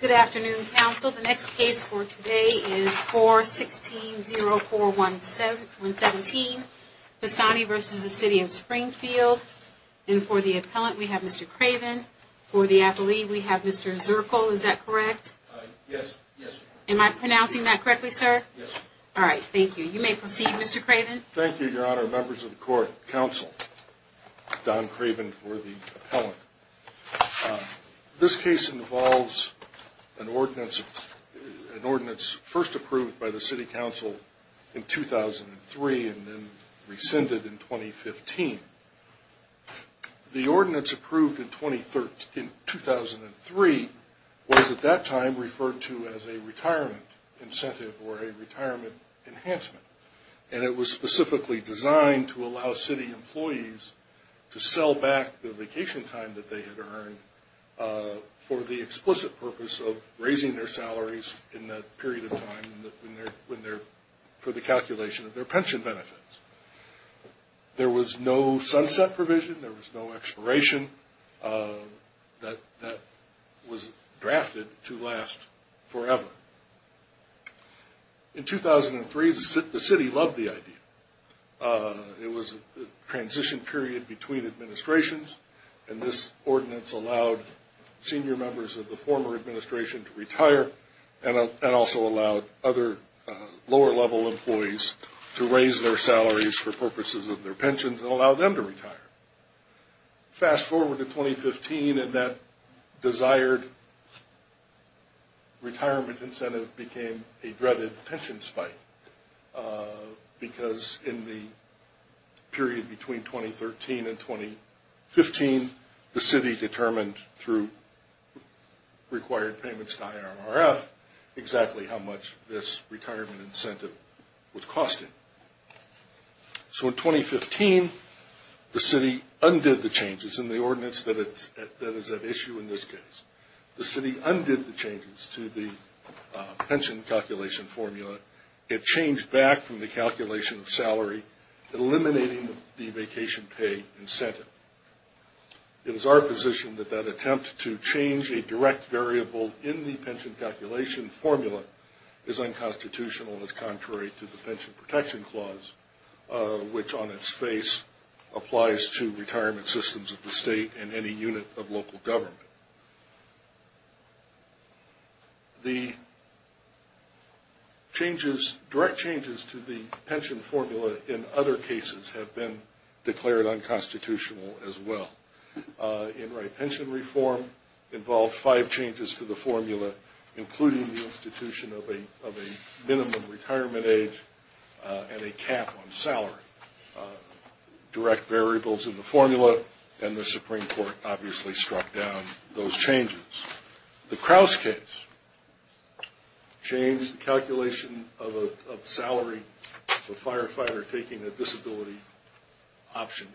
Good afternoon, counsel. The next case for today is 4-16-0-4-1-17, Pisani v. City of Springfield. And for the appellant, we have Mr. Craven. For the appellee, we have Mr. Zirkle. Is that correct? Yes. Am I pronouncing that correctly, sir? Yes. All right, thank you. You may proceed, Mr. Craven. Thank you, Your Honor. Members of the court, counsel, Don Craven for the appellant. This case involves an ordinance first approved by the City Council in 2003 and then rescinded in 2015. The ordinance approved in 2003 was at that time referred to as a retirement incentive or a retirement enhancement. And it was specifically designed to allow city employees to sell back the vacation time that they had earned for the explicit purpose of raising their salaries in that period of time for the calculation of their pension benefits. There was no sunset provision. There was no expiration. That was drafted to last forever. In 2003, the city loved the idea. It was a transition period between administrations, and this ordinance allowed senior members of the former administration to retire and also allowed other lower-level employees to raise their salaries for purposes of their pensions and allow them to retire. Fast forward to 2015, and that desired retirement incentive became a dreaded pension spike because in the period between 2013 and 2015, the city determined through required payments to IRRF exactly how much this retirement incentive was costing. So in 2015, the city undid the changes in the ordinance that is at issue in this case. The city undid the changes to the pension calculation formula. It changed back from the calculation of salary, eliminating the vacation pay incentive. It is our position that that attempt to change a direct variable in the pension calculation formula is unconstitutional as contrary to the Pension Protection Clause, which on its face applies to retirement systems of the state and any unit of local government. The direct changes to the pension formula in other cases have been declared unconstitutional as well. Enright pension reform involved five changes to the formula, including the institution of a minimum retirement age and a cap on salary. Direct variables in the formula, and the Supreme Court obviously struck down those changes. The Crouse case changed the calculation of salary for a firefighter taking a disability option.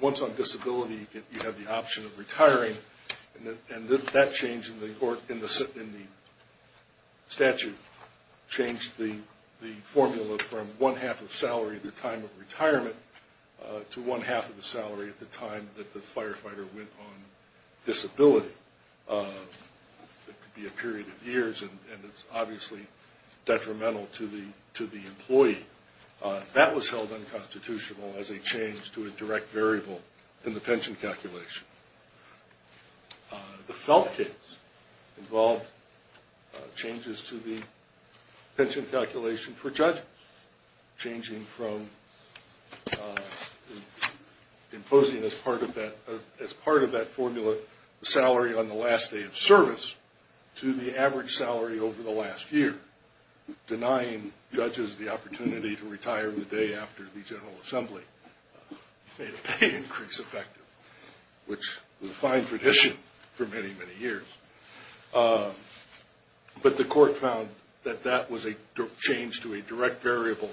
Once on disability, you have the option of retiring, and that change in the statute changed the formula from one half of salary at the time of retirement to one half of the salary at the time that the firefighter went on disability. It could be a period of years, and it's obviously detrimental to the employee. That was held unconstitutional as a change to a direct variable in the pension calculation. The Felt case involved changes to the pension calculation for judges, changing from imposing as part of that formula the salary on the last day of service to the average salary over the last year, denying judges the opportunity to retire the day after the General Assembly made a pay increase effective, which was a fine tradition for many, many years. But the court found that that was a change to a direct variable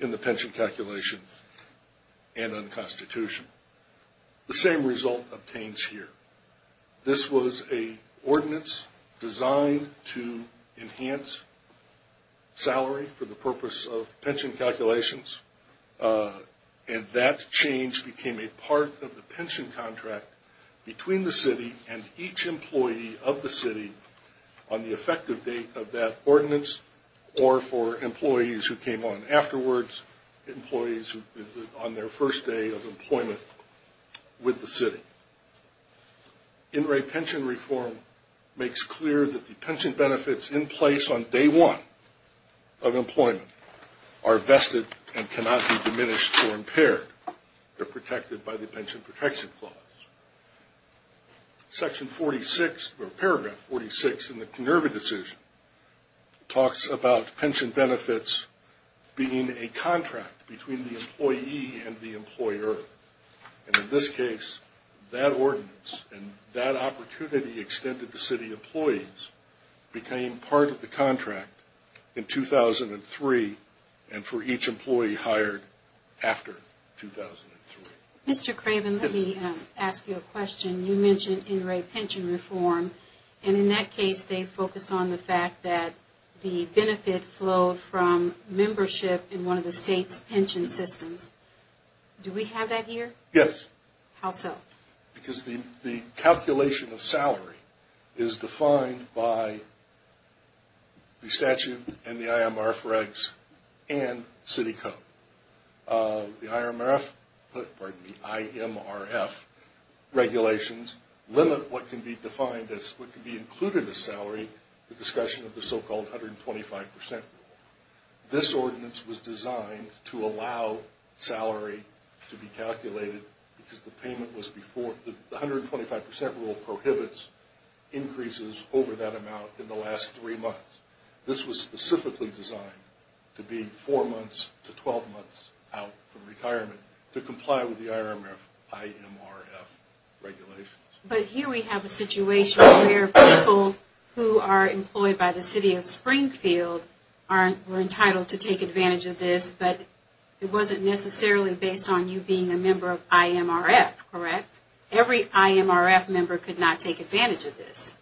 in the pension calculation and unconstitution. The same result obtains here. This was an ordinance designed to enhance salary for the purpose of pension calculations, and that change became a part of the pension contract between the city and each employee of the city on the effective date of that ordinance or for employees who came on afterwards, employees on their first day of employment with the city. In re-pension reform makes clear that the pension benefits in place on day one of employment are vested and cannot be diminished or impaired. They're protected by the Pension Protection Clause. Section 46, or paragraph 46 in the Kenerva decision, talks about pension benefits being a contract between the employee and the employer. And in this case, that ordinance and that opportunity extended to city employees became part of the contract in 2003 and for each employee hired after 2003. Mr. Craven, let me ask you a question. You mentioned in re-pension reform, and in that case, they focused on the fact that the benefit flowed from membership in one of the state's pension systems. Do we have that here? Yes. How so? Because the calculation of salary is defined by the statute and the IMRF regs and city code. The IMRF regulations limit what can be defined as what can be included as salary, the discussion of the so-called 125 percent rule. This ordinance was designed to allow salary to be calculated because the 125 percent rule prohibits increases over that amount in the last three months. This was specifically designed to be four months to 12 months out from retirement to comply with the IMRF regulations. But here we have a situation where people who are employed by the city of Springfield were entitled to take advantage of this, but it wasn't necessarily based on you being a member of IMRF, correct? Every IMRF member could not take advantage of this.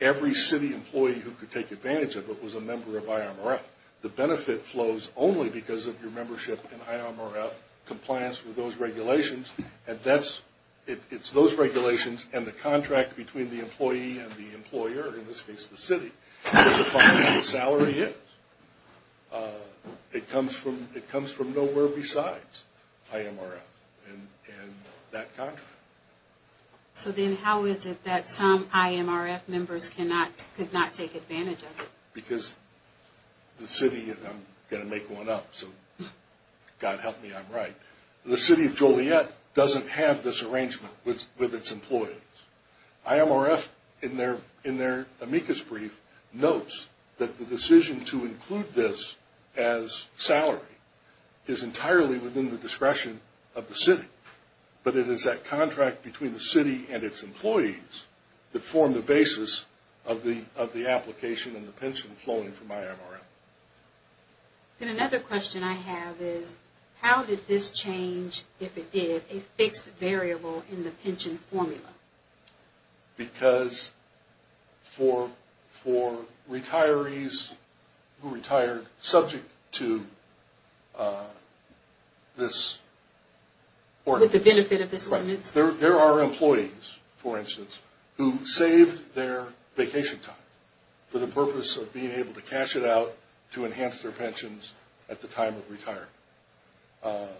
Every city employee who could take advantage of it was a member of IMRF. The benefit flows only because of your membership in IMRF compliance with those regulations, and it's those regulations and the contract between the employee and the employer, in this case the city, that defines what salary is. It comes from nowhere besides IMRF and that contract. So then how is it that some IMRF members could not take advantage of it? Because the city, and I'm going to make one up, so God help me, I'm right. The city of Joliet doesn't have this arrangement with its employees. IMRF, in their amicus brief, notes that the decision to include this as salary is entirely within the discretion of the city, but it is that contract between the city and its employees that form the basis of the application and the pension flowing from IMRF. And another question I have is, how did this change, if it did, a fixed variable in the pension formula? Because for retirees who retired subject to this ordinance. With the benefit of this ordinance. There are employees, for instance, who saved their vacation time for the purpose of being able to cash it out to enhance their pensions at the time of retirement. I've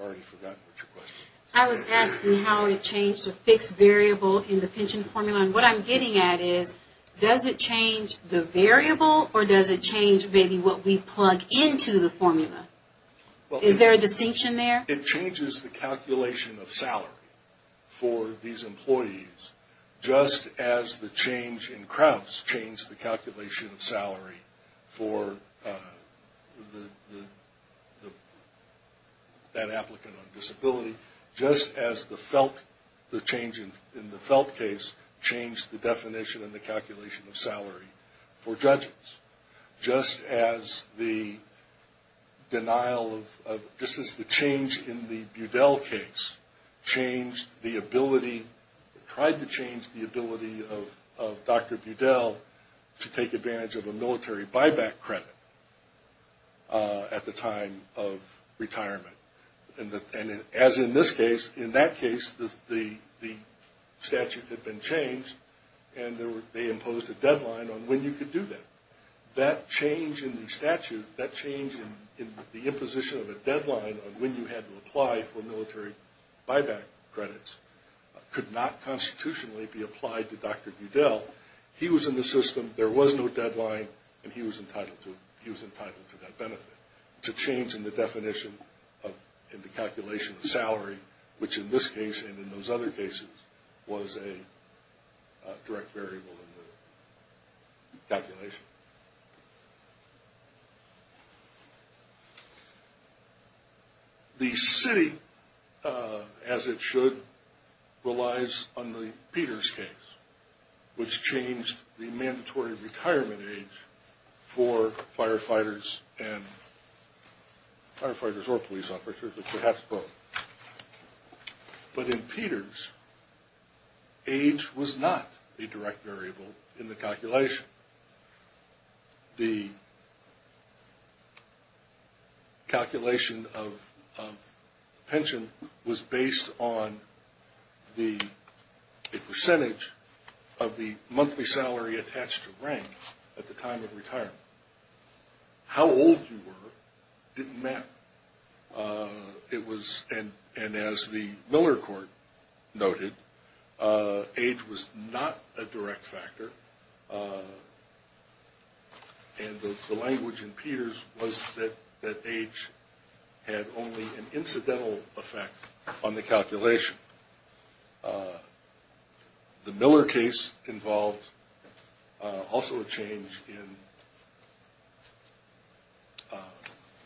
already forgotten what your question is. I was asking how it changed a fixed variable in the pension formula, and what I'm getting at is, does it change the variable, or does it change maybe what we plug into the formula? Is there a distinction there? It changes the calculation of salary for these employees, just as the change in Crouse changed the calculation of salary for that applicant on disability, just as the change in the Felt case changed the definition and the calculation of salary for judges, just as the denial of, this is the change in the Budell case, changed the ability, tried to change the ability of Dr. Budell to take advantage of a military buyback credit at the time of retirement. And as in this case, in that case, the statute had been changed, and they imposed a deadline on when you could do that. That change in the statute, that change in the imposition of a deadline on when you had to apply for military buyback credits, could not constitutionally be applied to Dr. Budell. He was in the system, there was no deadline, and he was entitled to that benefit. It's a change in the definition and the calculation of salary, which in this case and in those other cases was a direct variable in the calculation. The city, as it should, relies on the Peters case, which changed the mandatory retirement age for firefighters and, firefighters or police officers, but perhaps both. But in Peters, age was not a direct variable in the calculation. The calculation of pension was based on the percentage of the monthly salary attached to rank at the time of retirement. How old you were didn't matter. It was, and as the Miller court noted, age was not a direct factor. And the language in Peters was that age had only an incidental effect on the calculation. The Miller case involved also a change in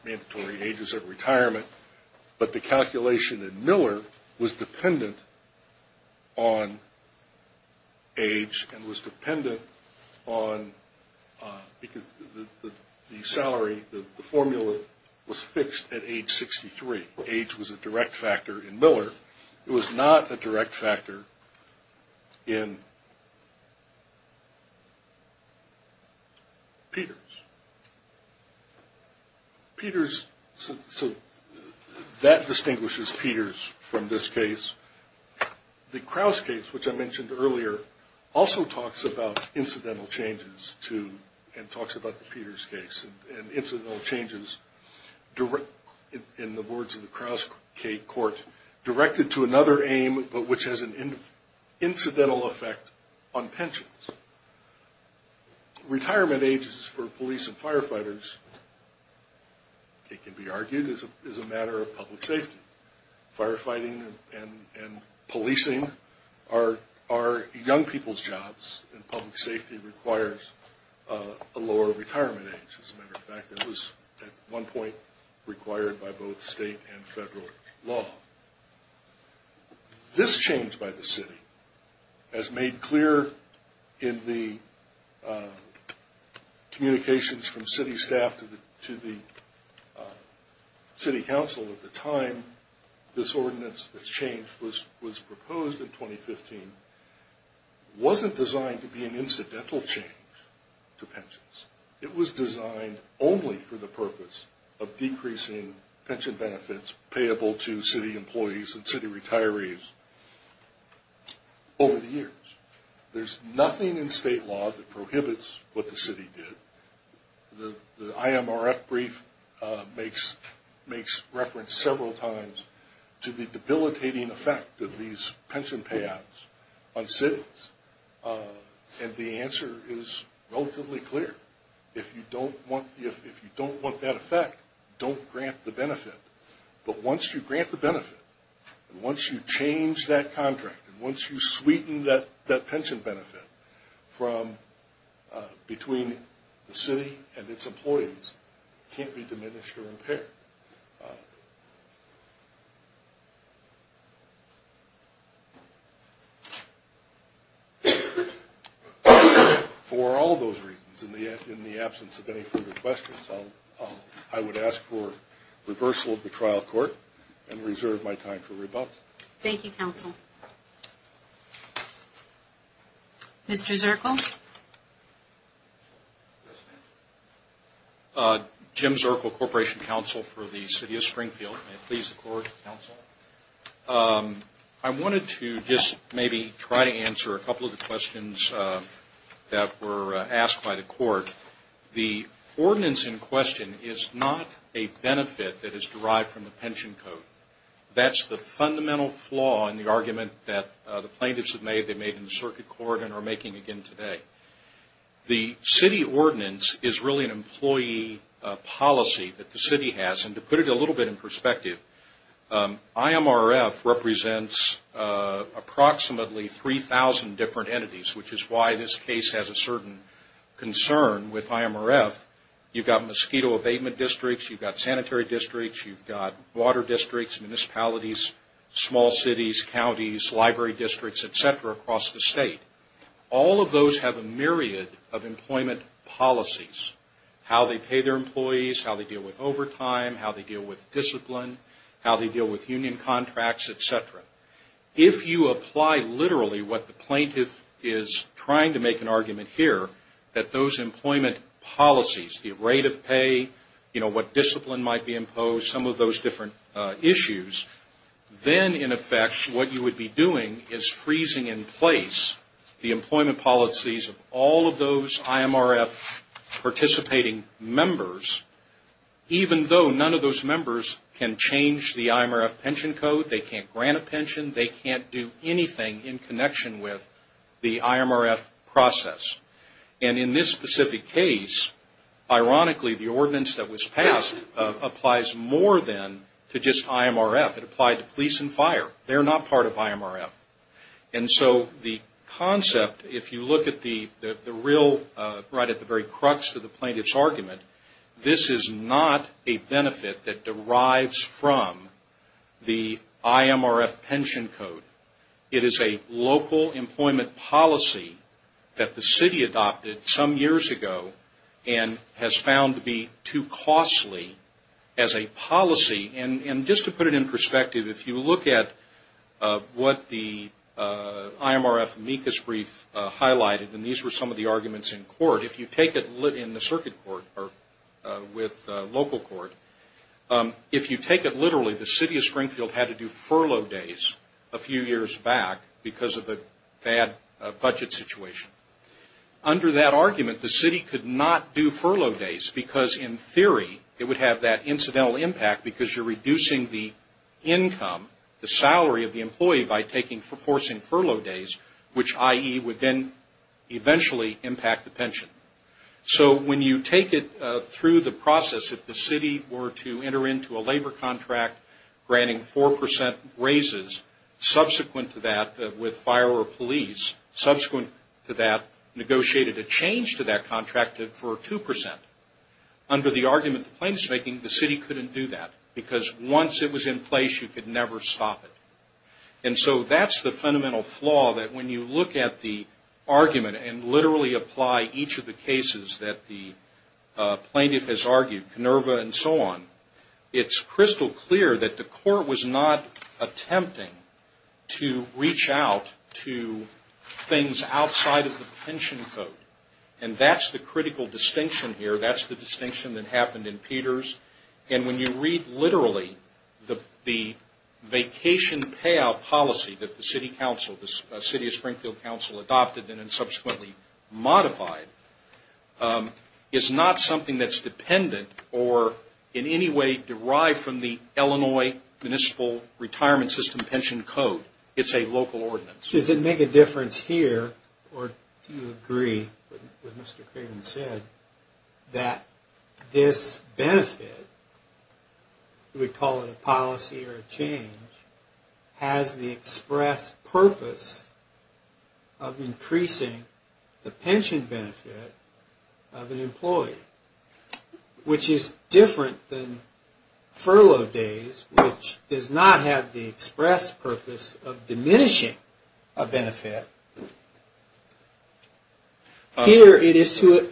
mandatory ages of retirement, but the calculation in Miller was dependent on age and was dependent on, because the salary, the formula was fixed at age 63. It was not a direct factor in Peters. Peters, so that distinguishes Peters from this case. The Crouse case, which I mentioned earlier, also talks about incidental changes to, and talks about the Peters case, and incidental changes in the words of the Crouse court directed to another aim, but which has an incidental effect on pensions. Retirement ages for police and firefighters, it can be argued, is a matter of public safety. Firefighting and policing are young people's jobs, and public safety requires a lower retirement age. As a matter of fact, it was at one point required by both state and federal law. This change by the city, as made clear in the communications from city staff to the city council at the time, this ordinance, this change was proposed in 2015, wasn't designed to be an incidental change to pensions. It was designed only for the purpose of decreasing pension benefits payable to city employees and city retirees over the years. There's nothing in state law that prohibits what the city did. The IMRF brief makes reference several times to the debilitating effect of these pension payouts on cities, and the answer is relatively clear. If you don't want that effect, don't grant the benefit. But once you grant the benefit, once you change that contract, and once you sweeten that pension benefit between the city and its employees, it can't be diminished or impaired. For all those reasons, in the absence of any further questions, I would ask for reversal of the trial court and reserve my time for rebuttal. Thank you, Counsel. Mr. Zirkle? Jim Zirkle, Corporation Counsel for the City of Springfield. May it please the Court, Counsel. I wanted to just maybe try to answer a couple of the questions that were asked by the Court. The ordinance in question is not a benefit that is derived from the pension code. That's the fundamental flaw in the argument that the plaintiffs have made, they made in the circuit court and are making again today. The city ordinance is really an employee policy that the city has, and to put it a little bit in perspective, IMRF represents approximately 3,000 different entities, which is why this case has a certain concern with IMRF. You've got mosquito abatement districts, you've got sanitary districts, you've got water districts, municipalities, small cities, counties, library districts, et cetera, across the state. All of those have a myriad of employment policies, how they pay their employees, how they deal with overtime, how they deal with discipline, how they deal with union contracts, et cetera. If you apply literally what the plaintiff is trying to make an argument here, that those employment policies, the rate of pay, you know, discipline might be imposed, some of those different issues, then in effect what you would be doing is freezing in place the employment policies of all of those IMRF participating members, even though none of those members can change the IMRF pension code, they can't grant a pension, they can't do anything in connection with the IMRF process. And in this specific case, ironically the ordinance that was passed applies more than to just IMRF. It applied to police and fire. They're not part of IMRF. And so the concept, if you look at the real, right at the very crux of the plaintiff's argument, this is not a benefit that derives from the IMRF pension code. It is a local employment policy that the city adopted some years ago and has found to be too costly as a policy. And just to put it in perspective, if you look at what the IMRF amicus brief highlighted, and these were some of the arguments in court, if you take it in the circuit court or with local court, if you take it literally the city of Springfield had to do furlough days a few years back because of a bad budget situation. Under that argument, the city could not do furlough days because in theory it would have that incidental impact because you're reducing the income, the salary of the employee by forcing furlough days, which IE would then eventually impact the pension. So when you take it through the process, if the city were to enter into a labor contract granting 4% raises, subsequent to that with fire or police, subsequent to that negotiated a change to that contract for 2%. Under the argument the plaintiff's making, the city couldn't do that because once it was in place you could never stop it. And so that's the fundamental flaw that when you look at the argument and literally apply each of the cases that the plaintiff has argued, Canerva and so on, it's crystal clear that the court was not attempting to reach out to things outside of the pension code. And that's the critical distinction here. That's the distinction that happened in Peters. And when you read literally the vacation payout policy that the city council, the city of Springfield council adopted and subsequently modified, is not something that's dependent or in any way derived from the Illinois municipal retirement system pension code. It's a local ordinance. Does it make a difference here or do you agree with what Mr. Craven said that this benefit, we call it a policy or a change, has the express purpose of increasing the pension benefit of an employee? Which is different than furlough days, which does not have the express purpose of diminishing a benefit. Here it is to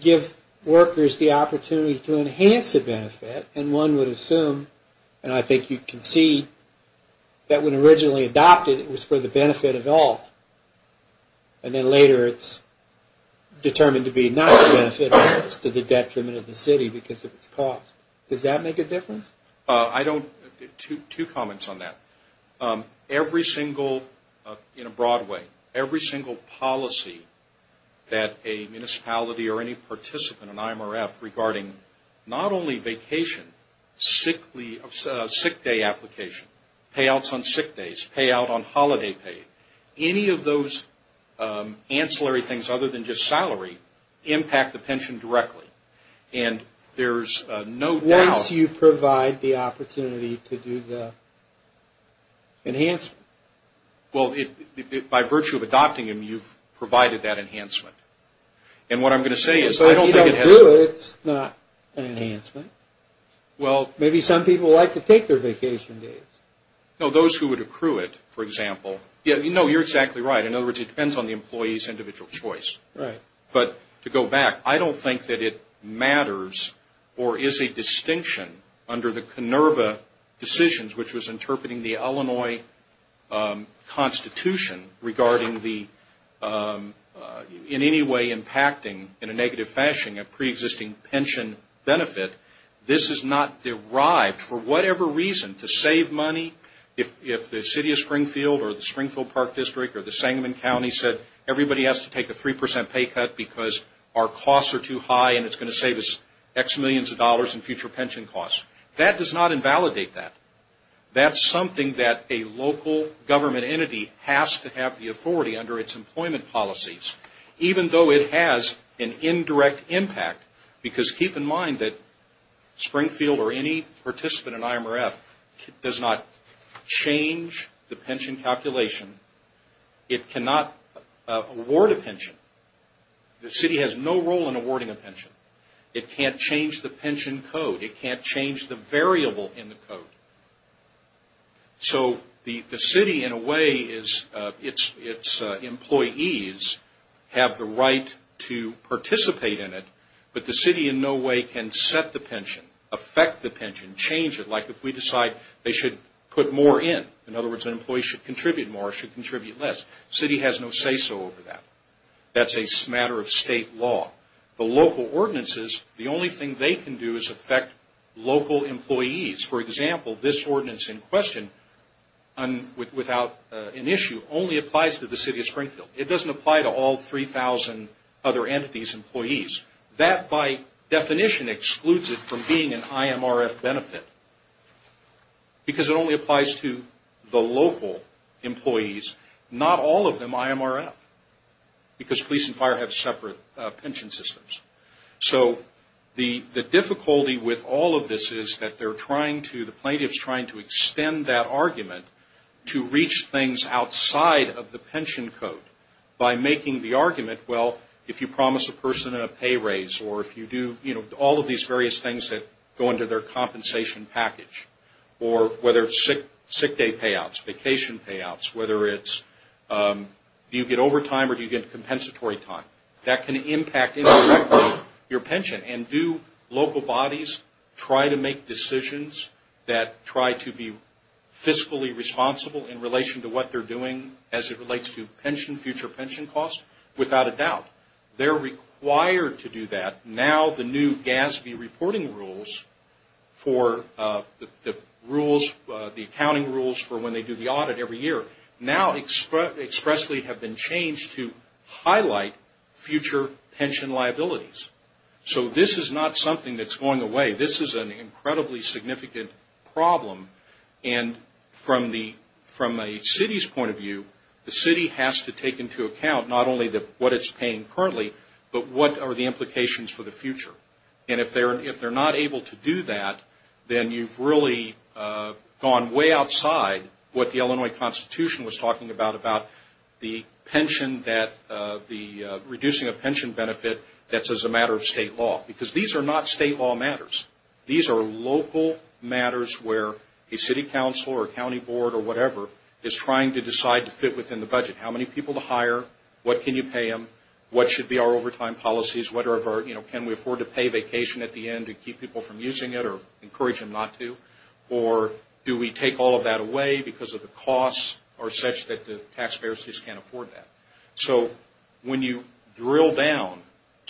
give workers the opportunity to enhance a benefit, and one would assume, and I think you can see, that when originally adopted, it was for the benefit of all. And then later it's determined to be not for the benefit of all, it's to the detriment of the city because of its cost. Does that make a difference? Two comments on that. Every single, in a broad way, every single policy that a municipality or any participant in IMRF regarding not only vacation, sick day application, payouts on sick days, payout on holiday pay, any of those ancillary things other than just salary impact the pension directly. And there's no doubt. Once you provide the opportunity to do the? Enhancement. Well, by virtue of adopting them, you've provided that enhancement. And what I'm going to say is I don't think it has? If you don't do it, it's not an enhancement. Well. Maybe some people like to take their vacation days. No, those who would accrue it, for example. No, you're exactly right. In other words, it depends on the employee's individual choice. Right. But to go back, I don't think that it matters or is a distinction under the KINERVA decisions, which was interpreting the Illinois Constitution regarding the in any way impacting, in a negative fashion, a preexisting pension benefit. This is not derived. For whatever reason, to save money, if the city of Springfield or the Springfield Park District or the Sangamon County said everybody has to take a 3% pay cut because our costs are too high and it's going to save us X millions of dollars in future pension costs. That does not invalidate that. That's something that a local government entity has to have the authority under its employment policies, even though it has an indirect impact. Because keep in mind that Springfield or any participant in IMRF does not change the pension calculation. It cannot award a pension. The city has no role in awarding a pension. It can't change the pension code. It can't change the variable in the code. So the city, in a way, its employees have the right to participate in it, but the city in no way can set the pension, affect the pension, change it. Like if we decide they should put more in. In other words, an employee should contribute more or should contribute less. The city has no say-so over that. That's a matter of state law. The local ordinances, the only thing they can do is affect local employees. For example, this ordinance in question, without an issue, only applies to the city of Springfield. It doesn't apply to all 3,000 other entities' employees. That, by definition, excludes it from being an IMRF benefit because it only applies to the local employees, not all of them IMRF because police and fire have separate pension systems. So the difficulty with all of this is that they're trying to, the plaintiff's trying to extend that argument to reach things outside of the pension code by making the argument, well, if you promise a person a pay raise or if you do, you know, all of these various things that go into their compensation package or whether it's sick day payouts, vacation payouts, whether it's do you get overtime or do you get compensatory time. That can impact indirectly your pension. And do local bodies try to make decisions that try to be fiscally responsible in relation to what they're doing as it relates to pension, future pension costs? Without a doubt. They're required to do that. Now the new GASB reporting rules for the rules, the accounting rules for when they do the audit every year, now expressly have been changed to highlight future pension liabilities. So this is not something that's going away. This is an incredibly significant problem. And from a city's point of view, the city has to take into account not only what it's paying currently, but what are the implications for the future. And if they're not able to do that, then you've really gone way outside what the Illinois Constitution was talking about, about the pension that the reducing of pension benefit that's as a matter of state law. Because these are not state law matters. These are local matters where a city council or a county board or whatever is trying to decide to fit within the budget. How many people to hire? What can you pay them? What should be our overtime policies? Can we afford to pay vacation at the end to keep people from using it or encourage them not to? Or do we take all of that away because of the costs are such that the taxpayers just can't afford that? So when you drill down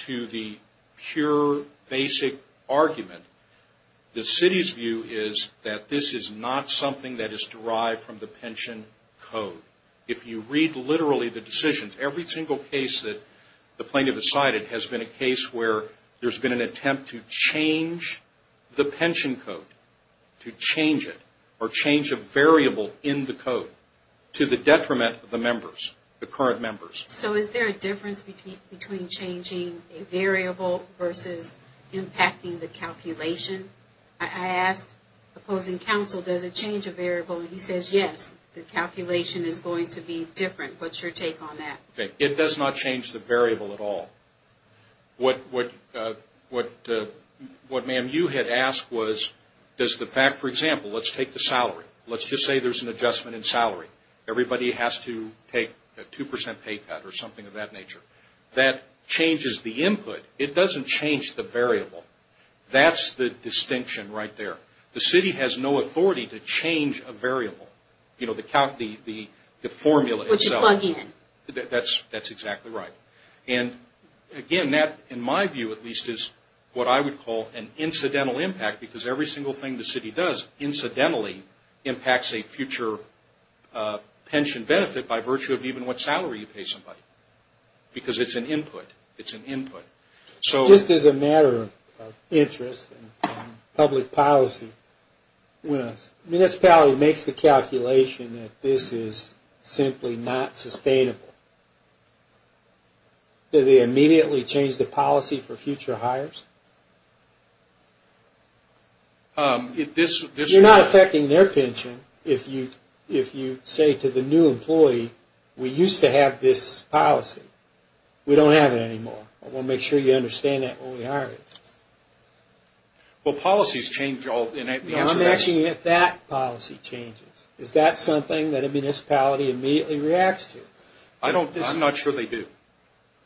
to the pure basic argument, the city's view is that this is not something that is derived from the pension code. If you read literally the decisions, every single case that the plaintiff has cited has been a case where there's been an attempt to change the pension code, to change it or change a variable in the code to the detriment of the members, the current members. So is there a difference between changing a variable versus impacting the calculation? I asked opposing counsel, does it change a variable? And he says, yes. The calculation is going to be different. What's your take on that? It does not change the variable at all. What, ma'am, you had asked was does the fact, for example, let's take the salary. Let's just say there's an adjustment in salary. Everybody has to take a 2% pay cut or something of that nature. That changes the input. It doesn't change the variable. That's the distinction right there. The city has no authority to change a variable. You know, the formula itself. Which you plug in. That's exactly right. And, again, that, in my view at least, is what I would call an incidental impact because every single thing the city does incidentally impacts a future pension benefit by virtue of even what salary you pay somebody because it's an input. It's an input. Just as a matter of interest and public policy, when a municipality makes the calculation that this is simply not sustainable, do they immediately change the policy for future hires? You're not affecting their pension if you say to the new employee, we used to have this policy. We don't have it anymore. I want to make sure you understand that when we hire you. Well, policies change. I'm asking if that policy changes. Is that something that a municipality immediately reacts to? I'm not sure they do.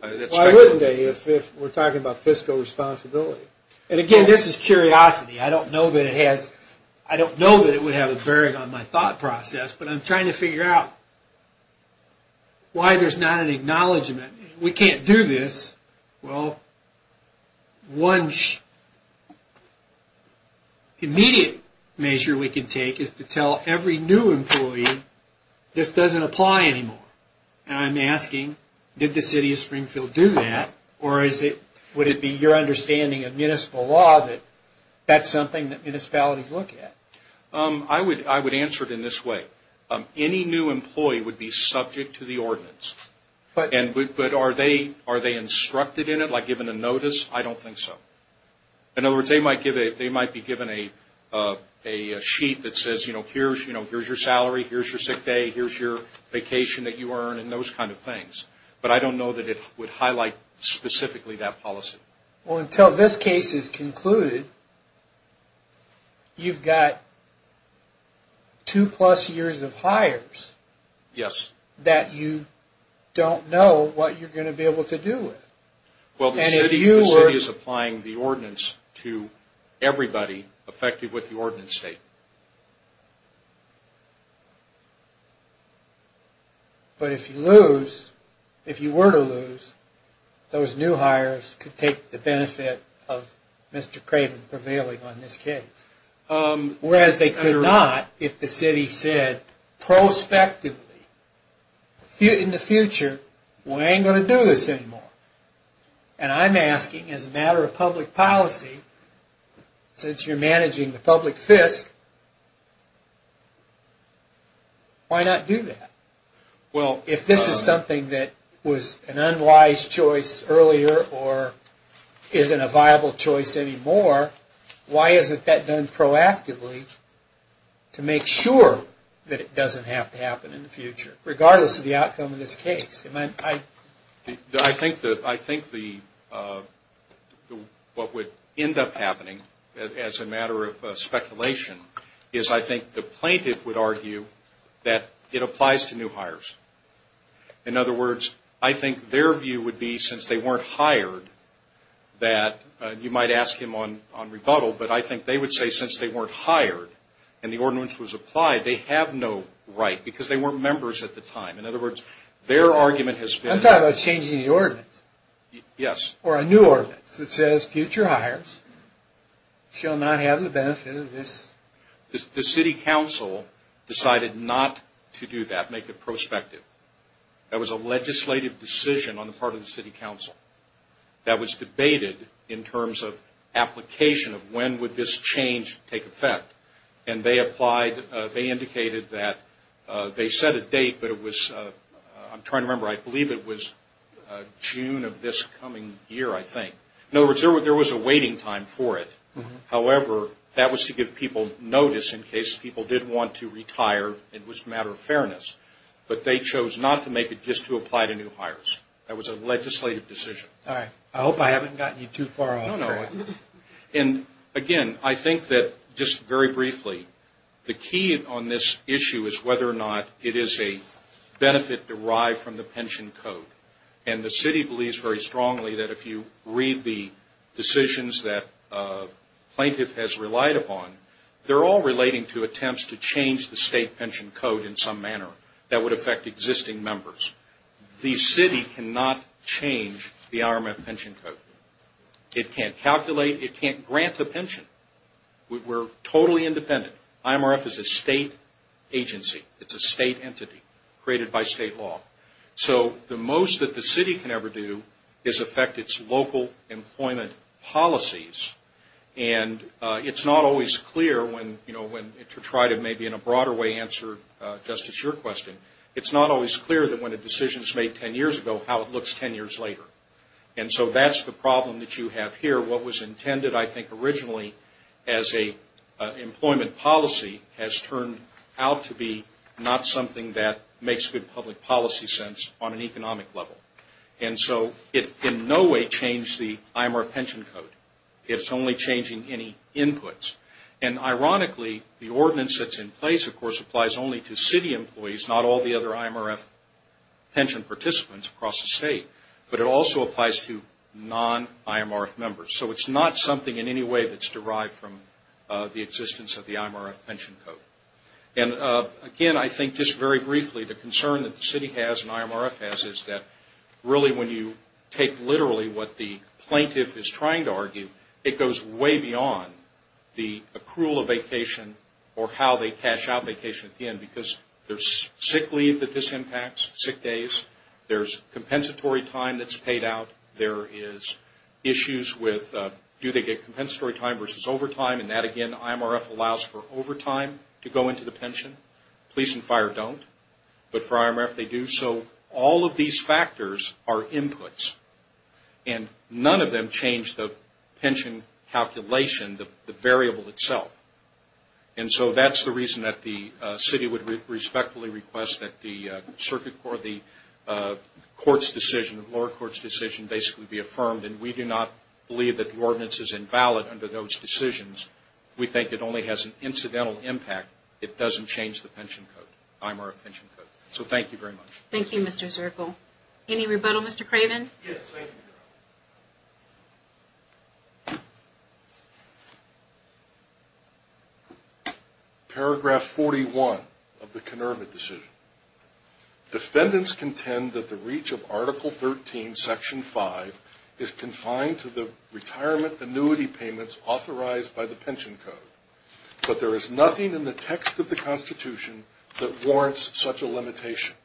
I wouldn't be if we're talking about fiscal responsibility. And, again, this is curiosity. I don't know that it would have a bearing on my thought process, but I'm trying to figure out why there's not an acknowledgement. We can't do this. Well, one immediate measure we can take is to tell every new employee, this doesn't apply anymore. And I'm asking, did the city of Springfield do that? Or would it be your understanding of municipal law that that's something that municipalities look at? I would answer it in this way. Any new employee would be subject to the ordinance. But are they instructed in it, like given a notice? I don't think so. In other words, they might be given a sheet that says, you know, here's your salary, here's your sick day, here's your vacation that you earned, and those kind of things. But I don't know that it would highlight specifically that policy. Well, until this case is concluded, you've got two plus years of hires. Yes. That you don't know what you're going to be able to do with. Well, the city is applying the ordinance to everybody affected with the ordinance statement. But if you lose, if you were to lose, those new hires could take the benefit of Mr. Craven prevailing on this case. Whereas they could not if the city said prospectively, in the future, we ain't going to do this anymore. And I'm asking, as a matter of public policy, since you're managing the public fisc, why not do that? Well, if this is something that was an unwise choice earlier or isn't a viable choice anymore, why isn't that done proactively to make sure that it doesn't have to happen in the future, regardless of the outcome of this case? I think that what would end up happening, as a matter of speculation, is I think the plaintiff would argue that it applies to new hires. In other words, I think their view would be, since they weren't hired, that you might ask him on rebuttal, but I think they would say since they weren't hired and the ordinance was applied, they have no right because they weren't members at the time. I'm talking about changing the ordinance. Yes. Or a new ordinance that says future hires shall not have the benefit of this. The city council decided not to do that, make it prospective. That was a legislative decision on the part of the city council that was debated in terms of application of when would this change take effect. They indicated that they set a date, but it was, I'm trying to remember, I believe it was June of this coming year, I think. In other words, there was a waiting time for it. However, that was to give people notice in case people did want to retire. It was a matter of fairness. But they chose not to make it just to apply to new hires. That was a legislative decision. All right. I hope I haven't gotten you too far off track. Again, I think that just very briefly, the key on this issue is whether or not it is a benefit derived from the pension code. The city believes very strongly that if you read the decisions that plaintiff has relied upon, they're all relating to attempts to change the state pension code in some manner that would affect existing members. The city cannot change the RMF pension code. It can't calculate. It can't grant the pension. We're totally independent. IMRF is a state agency. It's a state entity created by state law. So the most that the city can ever do is affect its local employment policies. And it's not always clear when, to try to maybe in a broader way answer, Justice, your question, it's not always clear that when a decision is made ten years ago how it looks ten years later. And so that's the problem that you have here. What was intended, I think, originally as an employment policy has turned out to be not something that makes good public policy sense on an economic level. And so it in no way changed the IMRF pension code. It's only changing any inputs. And ironically, the ordinance that's in place, of course, applies only to city employees, not all the other IMRF pension participants across the state. But it also applies to non-IMRF members. So it's not something in any way that's derived from the existence of the IMRF pension code. And again, I think just very briefly, the concern that the city has and IMRF has is that really when you take literally what the plaintiff is trying to argue, it goes way beyond the accrual of vacation or how they cash out vacation at the end. Because there's sick leave that this impacts, sick days. There's compensatory time that's paid out. There is issues with do they get compensatory time versus overtime. And that, again, IMRF allows for overtime to go into the pension. Police and fire don't. But for IMRF, they do. So all of these factors are inputs. And none of them change the pension calculation, the variable itself. And so that's the reason that the city would respectfully request that the circuit court, the court's decision, the lower court's decision basically be affirmed. And we do not believe that the ordinance is invalid under those decisions. We think it only has an incidental impact. It doesn't change the pension code, IMRF pension code. So thank you very much. Thank you, Mr. Zirkle. Any rebuttal, Mr. Craven? Yes, thank you. Paragraph 41 of the Kenerva decision. Defendants contend that the reach of Article 13, Section 5, is confined to the retirement annuity payments authorized by the pension code. But there is nothing in the text of the Constitution that warrants such a limitation.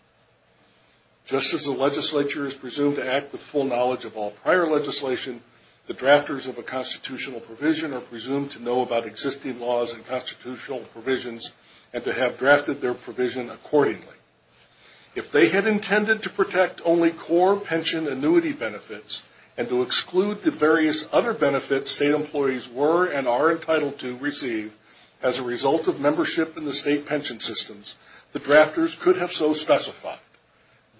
Just as the legislature is presumed to act with full knowledge of all prior legislation, the drafters of a constitutional provision are presumed to know about existing laws and constitutional provisions and to have drafted their provision accordingly. If they had intended to protect only core pension annuity benefits and to exclude the various other benefits state employees were and are entitled to receive as a result of membership in the state pension systems, the drafters could have so specified.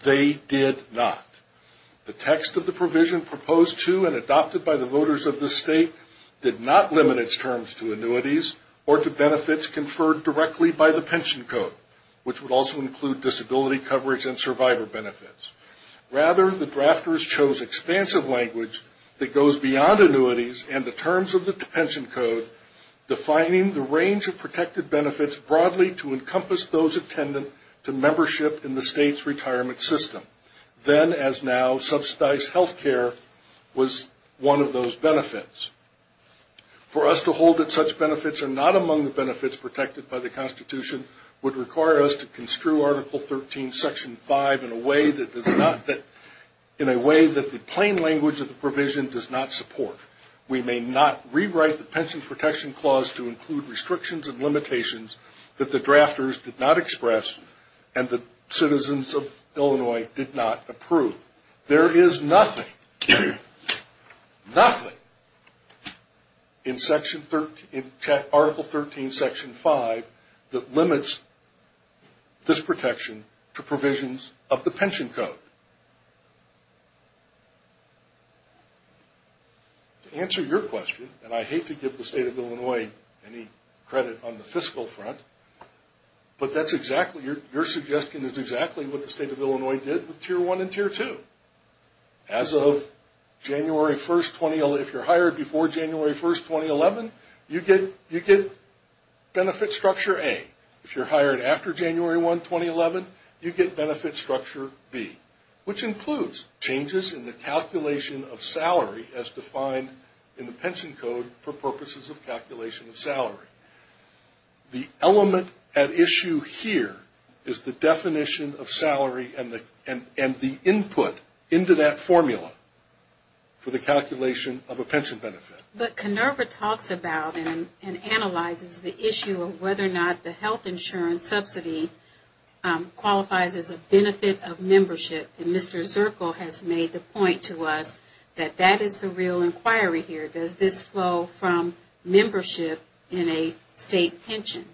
They did not. The text of the provision proposed to and adopted by the voters of the state did not limit its terms to annuities or to benefits conferred directly by the pension code, which would also include disability coverage and survivor benefits. Rather, the drafters chose expansive language that goes beyond annuities and the terms of the pension code, defining the range of protected benefits broadly to encompass those attendant to membership in the state's retirement system. Then, as now, subsidized health care was one of those benefits. For us to hold that such benefits are not among the benefits protected by the Constitution would require us to construe Article 13, Section 5, in a way that the plain language of the provision does not support. We may not rewrite the Pension Protection Clause to include restrictions and limitations that the drafters did not express and the citizens of Illinois did not approve. There is nothing, nothing in Article 13, Section 5, that limits this protection to provisions of the pension code. To answer your question, and I hate to give the state of Illinois any credit on the fiscal front, but that's exactly, your suggestion is exactly what the state of Illinois did with Tier 1 and Tier 2. As of January 1, 2011, if you're hired before January 1, 2011, you get Benefit Structure A. If you're hired after January 1, 2011, you get Benefit Structure B, which includes changes in the calculation of salary as defined in the pension code for purposes of calculation of salary. The element at issue here is the definition of salary and the input into that formula for the calculation of a pension benefit. But Kenerva talks about and analyzes the issue of whether or not the health insurance subsidy qualifies as a benefit of membership, and Mr. Zirkle has made the point to us that that is the real inquiry here. Does this flow from membership in a state pension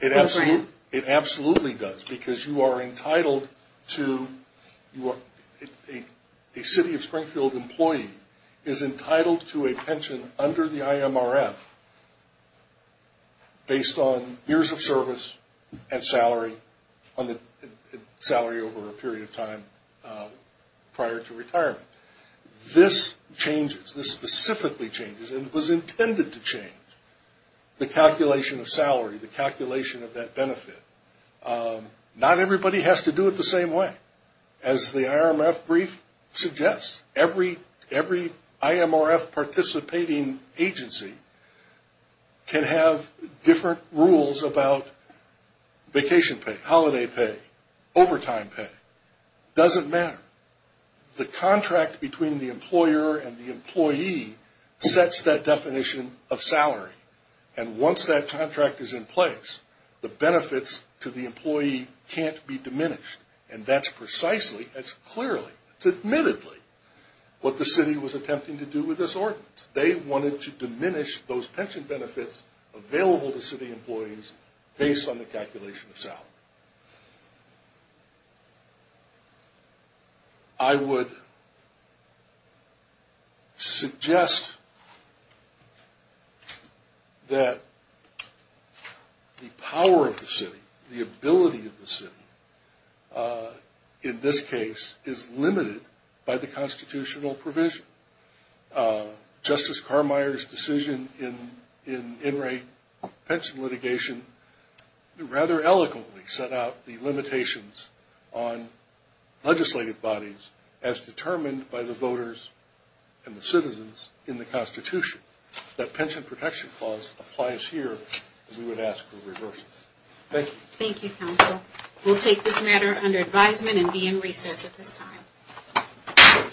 program? It absolutely does, because you are entitled to, a City of Springfield employee is entitled to a pension under the IMRF based on years of service and salary over a period of time prior to retirement. This changes, this specifically changes, and it was intended to change the calculation of salary, the calculation of that benefit. Not everybody has to do it the same way. As the IMRF brief suggests, every IMRF participating agency can have different rules about vacation pay, holiday pay, overtime pay. It doesn't matter. The contract between the employer and the employee sets that definition of salary, and once that contract is in place, the benefits to the employee can't be diminished, and that's precisely, that's clearly, it's admittedly what the city was attempting to do with this ordinance. They wanted to diminish those pension benefits available to city employees based on the calculation of salary. I would suggest that the power of the city, the ability of the city, in this case, is limited by the constitutional provision. Justice Carmier's decision in in-rate pension litigation, rather eloquently, set out the limitations on legislative bodies as determined by the voters and the citizens in the Constitution. That pension protection clause applies here, and we would ask for a reversal. Thank you. Thank you, counsel. We'll take this matter under advisement and be in recess at this time.